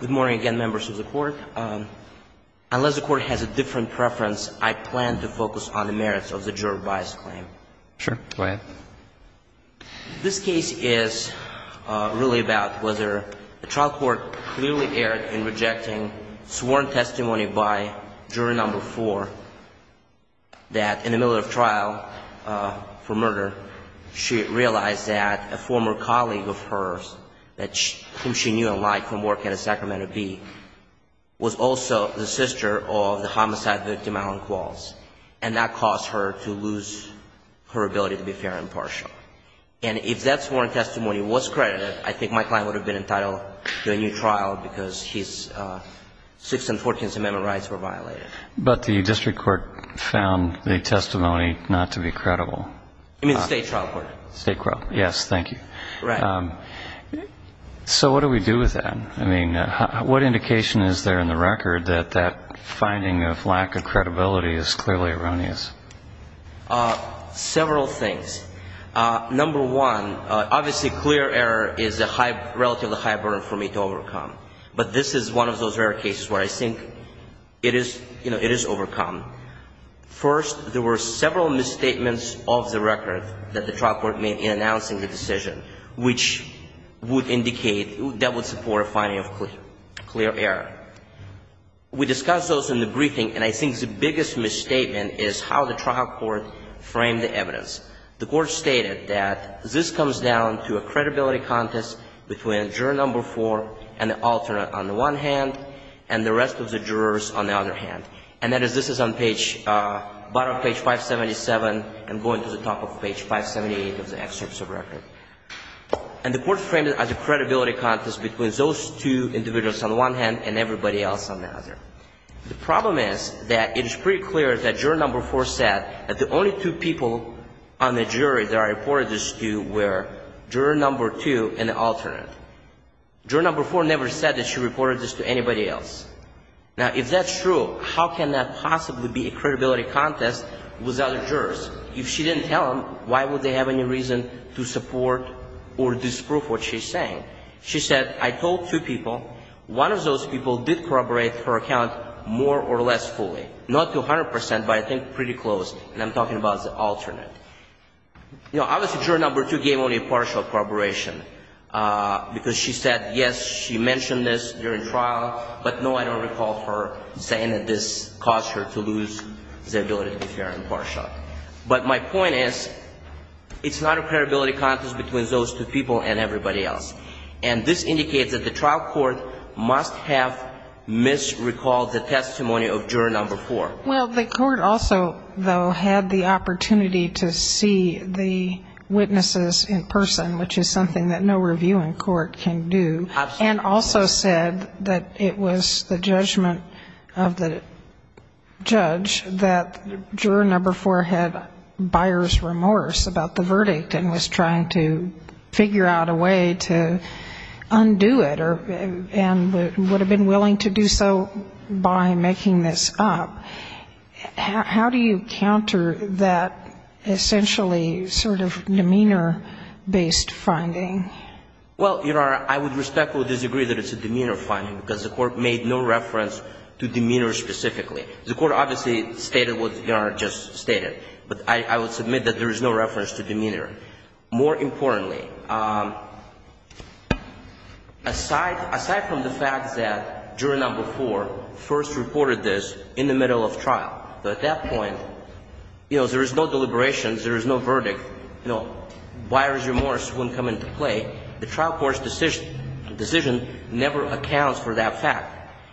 Good morning again, members of the court. Unless the court has a different preference, I plan to focus on the merits of the juror bias claim. Sure, go ahead. This case is really about whether the trial court clearly erred in rejecting sworn testimony by jury number four that in the middle of trial for murder, she realized that a former colleague of hers whom she knew and liked from work at a Sacramento Bee was also the sister of the homicide victim Alan Qualls. And that caused her to lose her ability to be fair and partial. And if that sworn testimony was credited, I think my client would have been entitled to a new trial because his Sixth and Fourteenth Amendment rights were violated. But the district court found the testimony not to be credible. You mean the state trial court? State trial. Yes, thank you. Right. So what do we do with that? I mean, what indication is there in the record that that finding of lack of credibility is clearly erroneous? Several things. Number one, obviously clear error is a relatively high burden for me to overcome. But this is one of those rare cases where I think it is, you know, it is overcome. First, there were several misstatements of the record that the trial court made in announcing the decision, which would indicate that would support a finding of clear error. We discussed those in the briefing, and I think the biggest misstatement is how the trial court framed the evidence. The court stated that this comes down to a credibility contest between juror number four and the alternate on the one hand, and the rest of the jurors on the other hand. And that is, this is on page, bottom of page 577 and going to the top of page 578 of the excerpts of the record. And the court framed it as a credibility contest between those two individuals on the one hand and everybody else on the other. The problem is that it is pretty clear that juror number four said that the only two people on the jury that I reported this to were juror number two and the alternate. Juror number four never said that she reported this to anybody else. Now, if that's true, how can that possibly be a credibility contest with other jurors? If she didn't tell them, why would they have any reason to support or disprove what she's saying? She said, I told two people. One of those people did corroborate her account more or less fully. Not to 100 percent, but I think pretty close, and I'm talking about the alternate. You know, obviously, juror number two gave only a partial corroboration, because she said, yes, she mentioned this during trial, but no, I don't recall her saying that this caused her to lose the ability to be fair and partial. But my point is, it's not a credibility contest between those two people and everybody else. And this indicates that the trial court must have misrecalled the testimony of juror number four. Well, the court also, though, had the opportunity to see the witnesses in person, which is something that no review in court can do. Absolutely. And also said that it was the judgment of the judge that juror number four had buyer's remorse about the verdict and was trying to figure out a way to undo it and would have been willing to do so by making this up. How do you counter that essentially sort of demeanor-based finding? Well, Your Honor, I would respectfully disagree that it's a demeanor finding, because the court made no reference to demeanor specifically. The court obviously stated what Your Honor just stated, but I would submit that there is no reference to demeanor. More importantly, aside from the fact that juror number four first reported this in the middle of trial, at that point, you know, there is no deliberations, there is no verdict, you know, buyer's remorse wouldn't come into play. The trial court's decision never accounts for that fact.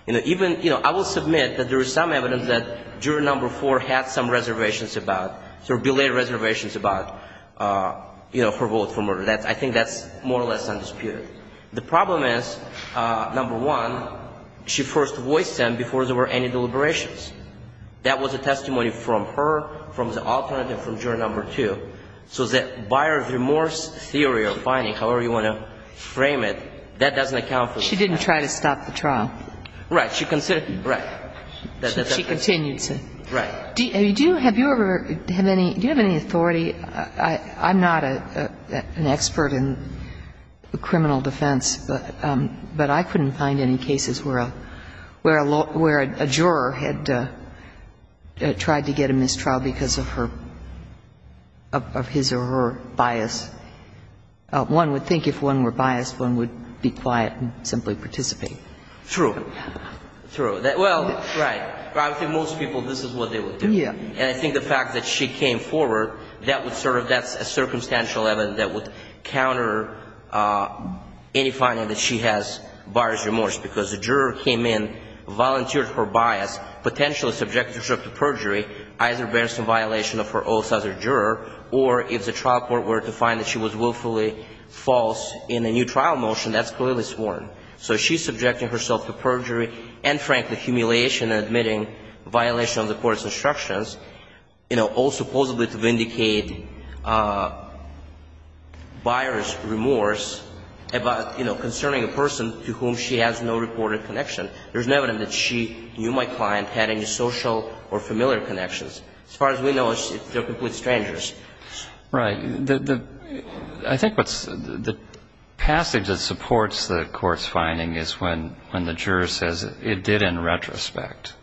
You know, even, you know, I will submit that there is some evidence that juror number four had some reservations about, sort of belayed reservations about, you know, her vote for murder. I think that's more or less undisputed. The problem is, number one, she first voiced them before there were any deliberations. That was a testimony from her, from the alternate, and from juror number two. So the buyer's remorse theory or finding, however you want to frame it, that doesn't account for the fact. She didn't try to stop the trial. Right. She considered it. Right. She continued to. Right. Do you have any authority? I'm not an expert in criminal defense, but I couldn't find any cases where a juror had tried to get a mistrial because of her, of his or her bias. One would think if one were biased, one would be quiet and simply participate. True. True. Well, right. I think most people, this is what they would do. Yeah. And I think the fact that she came forward, that would sort of, that's a circumstantial evidence that would counter any finding that she has buyer's remorse, because the juror came in, volunteered her bias, potentially subjected herself to perjury, either based on violation of her oaths as a juror, or if the trial court were to find that she was willfully false in a new trial motion, that's clearly sworn. So she's subjecting herself to perjury and, frankly, humiliation and admitting violation of the court's instructions, you know, all supposedly to vindicate buyer's remorse about, you know, concerning a person to whom she has no reported connection. There's no evidence that she, you, my client, had any social or familiar connections. As far as we know, they're complete strangers. Right. The, I think what's, the passage that supports the court's finding is when the juror says it did in retrospect.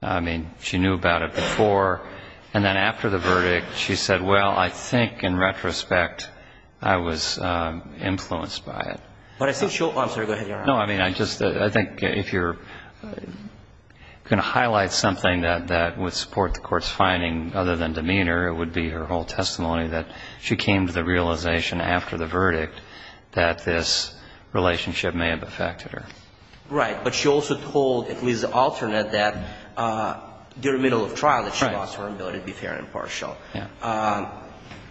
I mean, she knew about it before, and then after the verdict, she said, well, I think in retrospect, I was influenced by it. But I think she'll, I'm sorry, go ahead, Your Honor. No, I mean, I just, I think if you're going to highlight something that would support the court's finding other than demeanor, it would be her whole testimony that she came to the realization after the verdict that this relationship may have affected her. Right. But she also told, at least the alternate, that during middle of trial that she lost her ability to be fair and impartial. Yeah.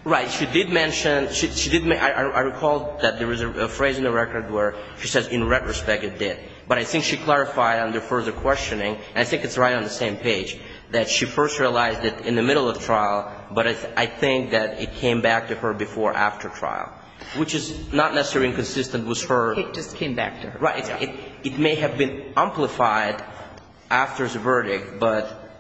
Right. She did mention, she did, I recall that there was a phrase in the record where she says, in retrospect, it did. But I think she clarified under further questioning, and I think it's right on the same page, that she first realized it in the middle of trial, but I think that it came back to her before or after trial, which is not necessarily inconsistent with her. It just came back to her. Right. It may have been amplified after the verdict, but,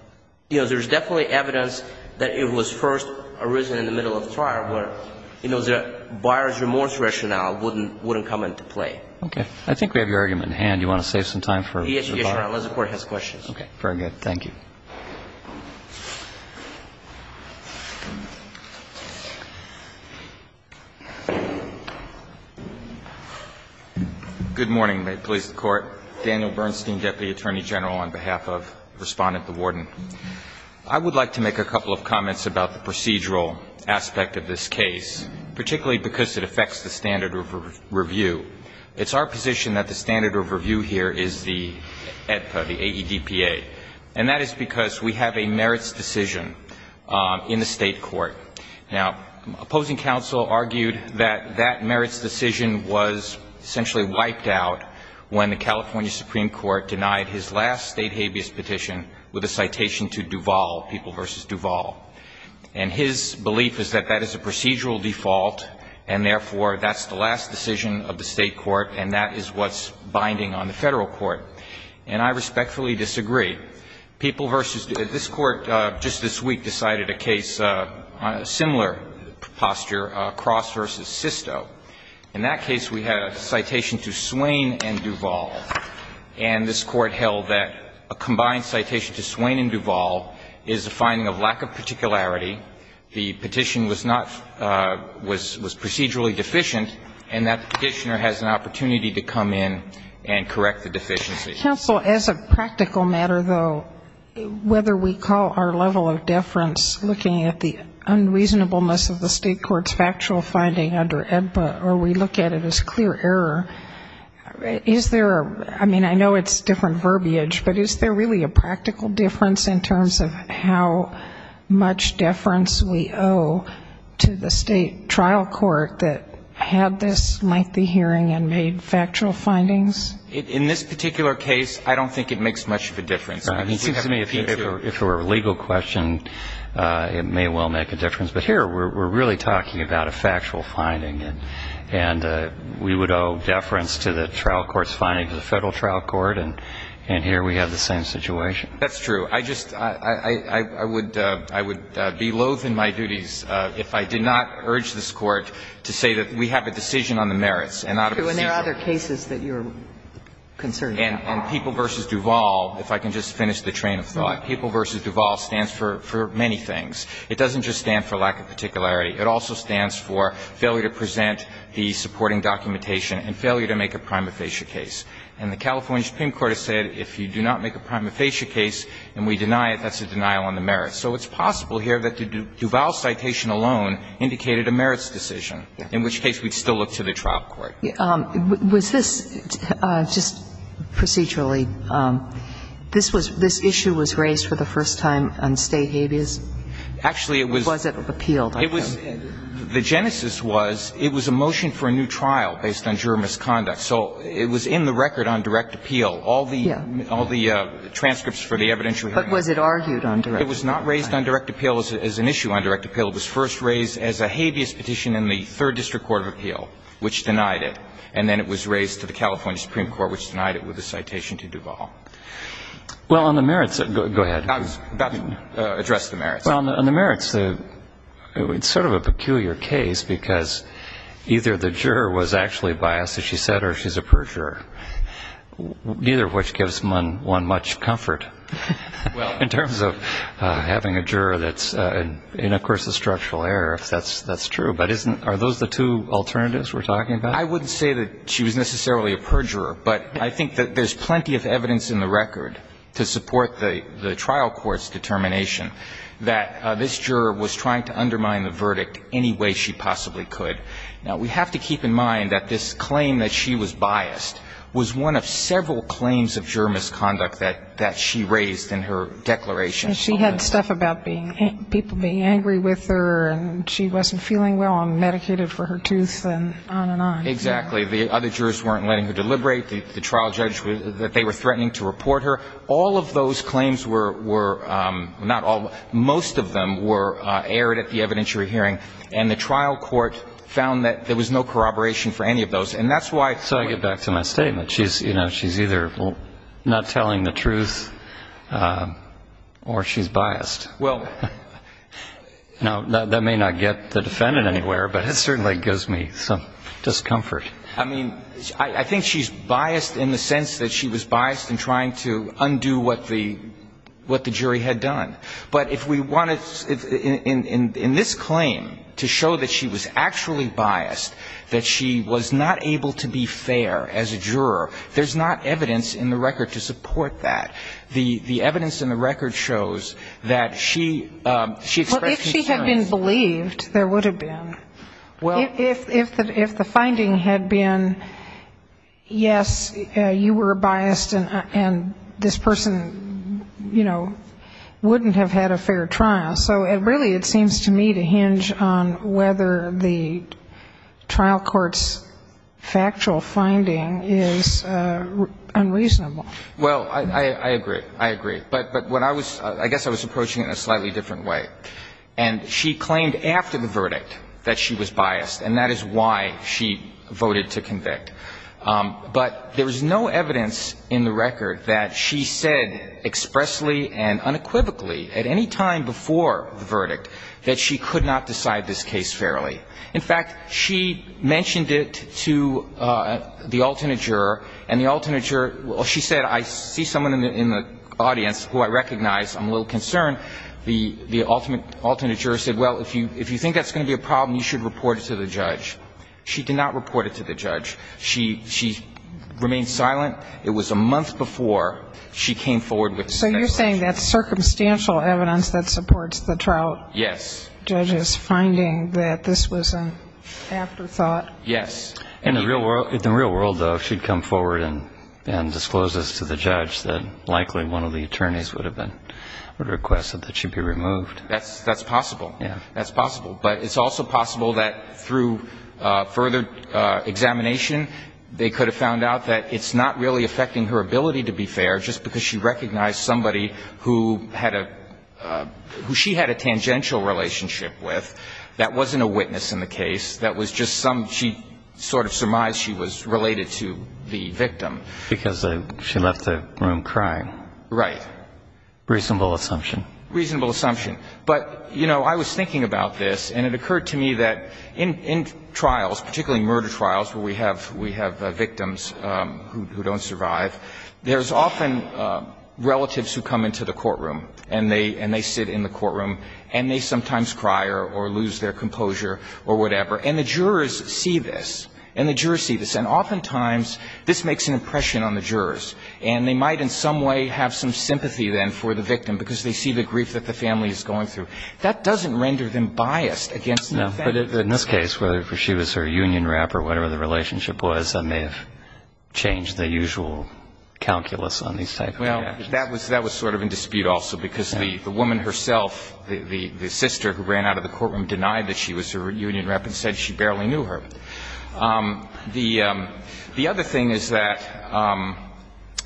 you know, there's definitely evidence that it was first arisen in the middle of the trial where, you know, the buyer's remorse rationale wouldn't come into play. Okay. I think we have your argument in hand. Do you want to save some time for the buyer? Yes, Your Honor, unless the Court has questions. Okay. Very good. Thank you. Good morning. May it please the Court. Daniel Bernstein, Deputy Attorney General, on behalf of Respondent, the Warden. I would like to make a couple of comments about the procedural aspect of this case, particularly because it affects the standard of review. It's our position that the standard of review here is the AEDPA, the A-E-D-P-A, and that is because we have a merits decision in the State Court. Now, opposing counsel argued that that merits decision was essentially wiped out when the California Supreme Court denied his last State habeas petition with a citation to Duval, People v. Duval. And his belief is that that is a procedural default, and therefore, that's the last decision of the State court, and that is what's binding on the Federal court. And I respectfully disagree. People v. Duval. This Court just this week decided a case on a similar posture, Cross v. Sisto. In that case, we had a citation to Swain and Duval, and this Court held that a combined the petition was not was procedurally deficient, and that petitioner has an opportunity to come in and correct the deficiency. Counsel, as a practical matter, though, whether we call our level of deference looking at the unreasonableness of the State court's factual finding under AEDPA or we look at it as clear error, is there a, I mean, I know it's different verbiage, but is there really a practical difference in terms of how much deference we owe to the State trial court that had this lengthy hearing and made factual findings? In this particular case, I don't think it makes much of a difference. It seems to me if it were a legal question, it may well make a difference. But here, we're really talking about a factual finding, and we would owe deference to the trial court's finding to the Federal trial court, and here we have the same situation. That's true. I just, I would be loathe in my duties if I did not urge this Court to say that we have a decision on the merits and not a decision. And there are other cases that you're concerned about. And People v. Duval, if I can just finish the train of thought. People v. Duval stands for many things. It doesn't just stand for lack of particularity. It also stands for failure to present the supporting documentation and failure to make a prima facie case. And the California Supreme Court has said if you do not make a prima facie case and we deny it, that's a denial on the merits. So it's possible here that the Duval citation alone indicated a merits decision, in which case we'd still look to the trial court. Was this, just procedurally, this was, this issue was raised for the first time on State habeas? Actually, it was. Or was it appealed? It was, the genesis was, it was a motion for a new trial based on juror misconduct. So it was in the record on direct appeal. Yeah. All the transcripts for the evidentiary hearing. But was it argued on direct appeal? It was not raised on direct appeal as an issue on direct appeal. It was first raised as a habeas petition in the Third District Court of Appeal, which denied it. And then it was raised to the California Supreme Court, which denied it with a citation to Duval. Well, on the merits, go ahead. I was about to address the merits. Well, on the merits, it's sort of a peculiar case because either the juror was actually biased, as she said, or she's a perjurer, neither of which gives one much comfort in terms of having a juror that's in, of course, a structural error, if that's true. But isn't, are those the two alternatives we're talking about? I wouldn't say that she was necessarily a perjurer. But I think that there's plenty of evidence in the record to support the trial court's determination that this juror was trying to undermine the verdict any way she possibly could. Now, we have to keep in mind that this claim that she was biased was one of several claims of juror misconduct that she raised in her declaration. And she had stuff about being, people being angry with her and she wasn't feeling well and medicated for her tooth and on and on. Exactly. The other jurors weren't letting her deliberate. The trial judge, that they were threatening to report her. All of those claims were, not all, most of them were aired at the evidentiary hearing. And the trial court found that there was no corroboration for any of those. And that's why. So I get back to my statement. She's, you know, she's either not telling the truth or she's biased. Well. Now, that may not get the defendant anywhere, but it certainly gives me some discomfort. I mean, I think she's biased in the sense that she was biased in trying to undo what the jury had done. But if we wanted, in this claim, to show that she was actually biased, that she was not able to be fair as a juror, there's not evidence in the record to support that. The evidence in the record shows that she expressed concerns. Well, if she had been believed, there would have been. Well. If the finding had been, yes, you were biased and this person, you know, wouldn't have had a fair trial. So really it seems to me to hinge on whether the trial court's factual finding is unreasonable. Well, I agree. I agree. But when I was ‑‑ I guess I was approaching it in a slightly different way. And she claimed after the verdict that she was biased. And that is why she voted to convict. But there was no evidence in the record that she said expressly and unequivocally at any time before the verdict that she could not decide this case fairly. In fact, she mentioned it to the alternate juror. And the alternate juror, well, she said, I see someone in the audience who I recognize. I'm a little concerned. The alternate juror said, well, if you think that's going to be a problem, you should report it to the judge. She did not report it to the judge. She remained silent. It was a month before she came forward with the factual evidence. So you're saying that's circumstantial evidence that supports the trial judge's finding that this was an afterthought? Yes. In the real world, though, if she'd come forward and disclosed this to the judge, then likely one of the attorneys would request that she be removed. That's possible. Yeah. That's possible. But it's also possible that through further examination they could have found out that it's not really affecting her ability to be fair just because she recognized somebody who had a ñ who she had a tangential relationship with that wasn't a witness in the case. That was just some ñ she sort of surmised she was related to the victim. Because she left the room crying. Right. Reasonable assumption. Reasonable assumption. But, you know, I was thinking about this and it occurred to me that in trials, particularly murder trials where we have victims who don't survive, there's often relatives who come into the courtroom and they sit in the courtroom and they sometimes cry or lose their composure or whatever. And the jurors see this. And the jurors see this. And oftentimes this makes an impression on the jurors. And they might in some way have some sympathy then for the victim because they see the grief that the family is going through. That doesn't render them biased against the offense. No. But in this case, whether she was her union rep or whatever the relationship was, that may have changed the usual calculus on these type of reactions. Well, that was sort of in dispute also because the woman herself, the sister who ran out of the courtroom denied that she was her union rep and said she barely knew her. The other thing is that,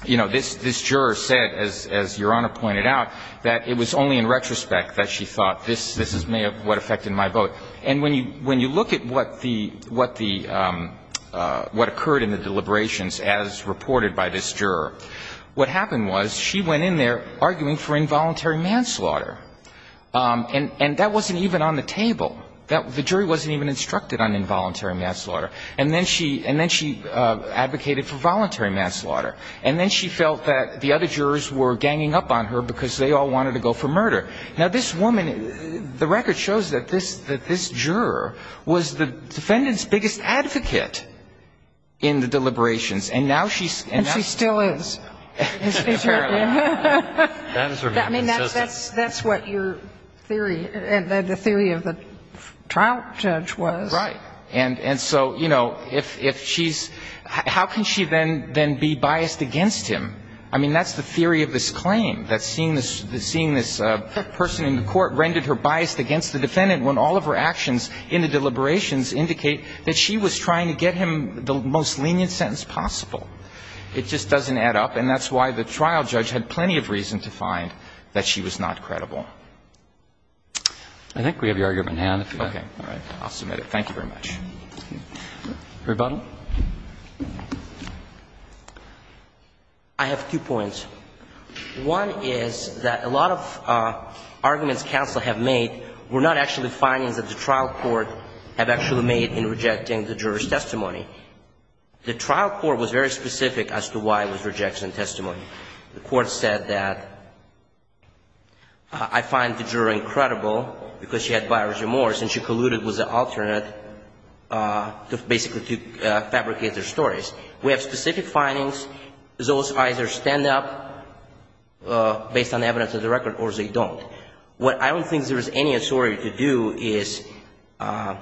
you know, this juror said, as Your Honor pointed out, that it was only in retrospect that she thought this is what affected my vote. And when you look at what the – what occurred in the deliberations as reported by this juror, what happened was she went in there arguing for involuntary manslaughter. And that wasn't even on the table. The jury wasn't even instructed on involuntary manslaughter. And then she advocated for voluntary manslaughter. And then she felt that the other jurors were ganging up on her because they all wanted to go for murder. Now, this woman, the record shows that this juror was the defendant's biggest advocate in the deliberations. And now she's – And she still is. Apparently. That is her main insistence. I mean, that's what your theory, the theory of the trial judge was. Right. And so, you know, if she's – how can she then be biased against him? I mean, that's the theory of this claim, that seeing this person in the court rendered her biased against the defendant when all of her actions in the deliberations indicate that she was trying to get him the most lenient sentence possible. It just doesn't add up. And that's why the trial judge had plenty of reason to find that she was not credible. I think we have your argument, Your Honor. Okay. All right. I'll submit it. Thank you very much. Rebuttal. I have two points. One is that a lot of arguments counsel have made were not actually findings that the trial court have actually made in rejecting the juror's testimony. The trial court was very specific as to why it was rejecting testimony. The court said that, I find the juror incredible because she had biased remorse and she colluded with the alternate basically to fabricate their stories. We have specific findings. Those either stand up based on evidence of the record or they don't. What I don't think there is any authority to do is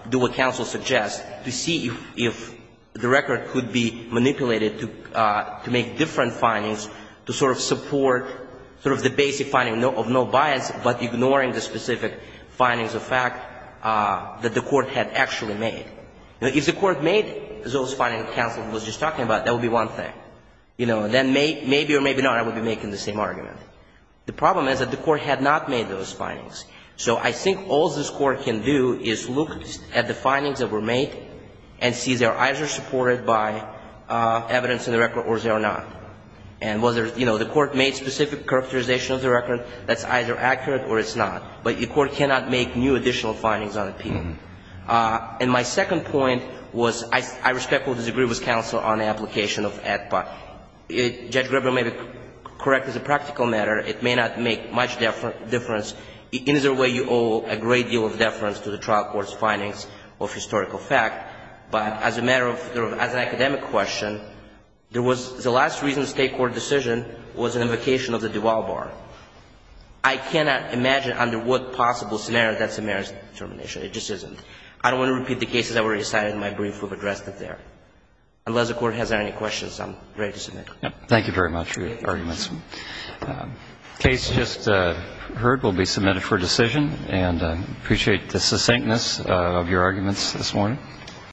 do what counsel suggests, to see if the record could be manipulated to make different findings to sort of support sort of the basic finding of no bias but ignoring the specific findings of fact that the court had actually made. If the court made those findings that counsel was just talking about, that would be one thing. Then maybe or maybe not I would be making the same argument. The problem is that the court had not made those findings. So I think all this court can do is look at the findings that were made and see they are either supported by evidence in the record or they are not. And whether the court made specific characterization of the record, that's either accurate or it's not. But the court cannot make new additional findings on appeal. And my second point was I respectfully disagree with counsel on the application of AEDPA. Judge Grebel may be correct as a practical matter. It may not make much difference. Either way you owe a great deal of deference to the trial court's findings of historical fact. But as a matter of, as an academic question, there was, the last reason state court decision was an invocation of the Duval Bar. I cannot imagine under what possible scenario that's a merits determination. It just isn't. I don't want to repeat the cases that were recited in my brief. We've addressed it there. Unless the court has any questions, I'm ready to submit. Thank you very much for your arguments. The case just heard will be submitted for decision. And I appreciate the succinctness of your arguments this morning.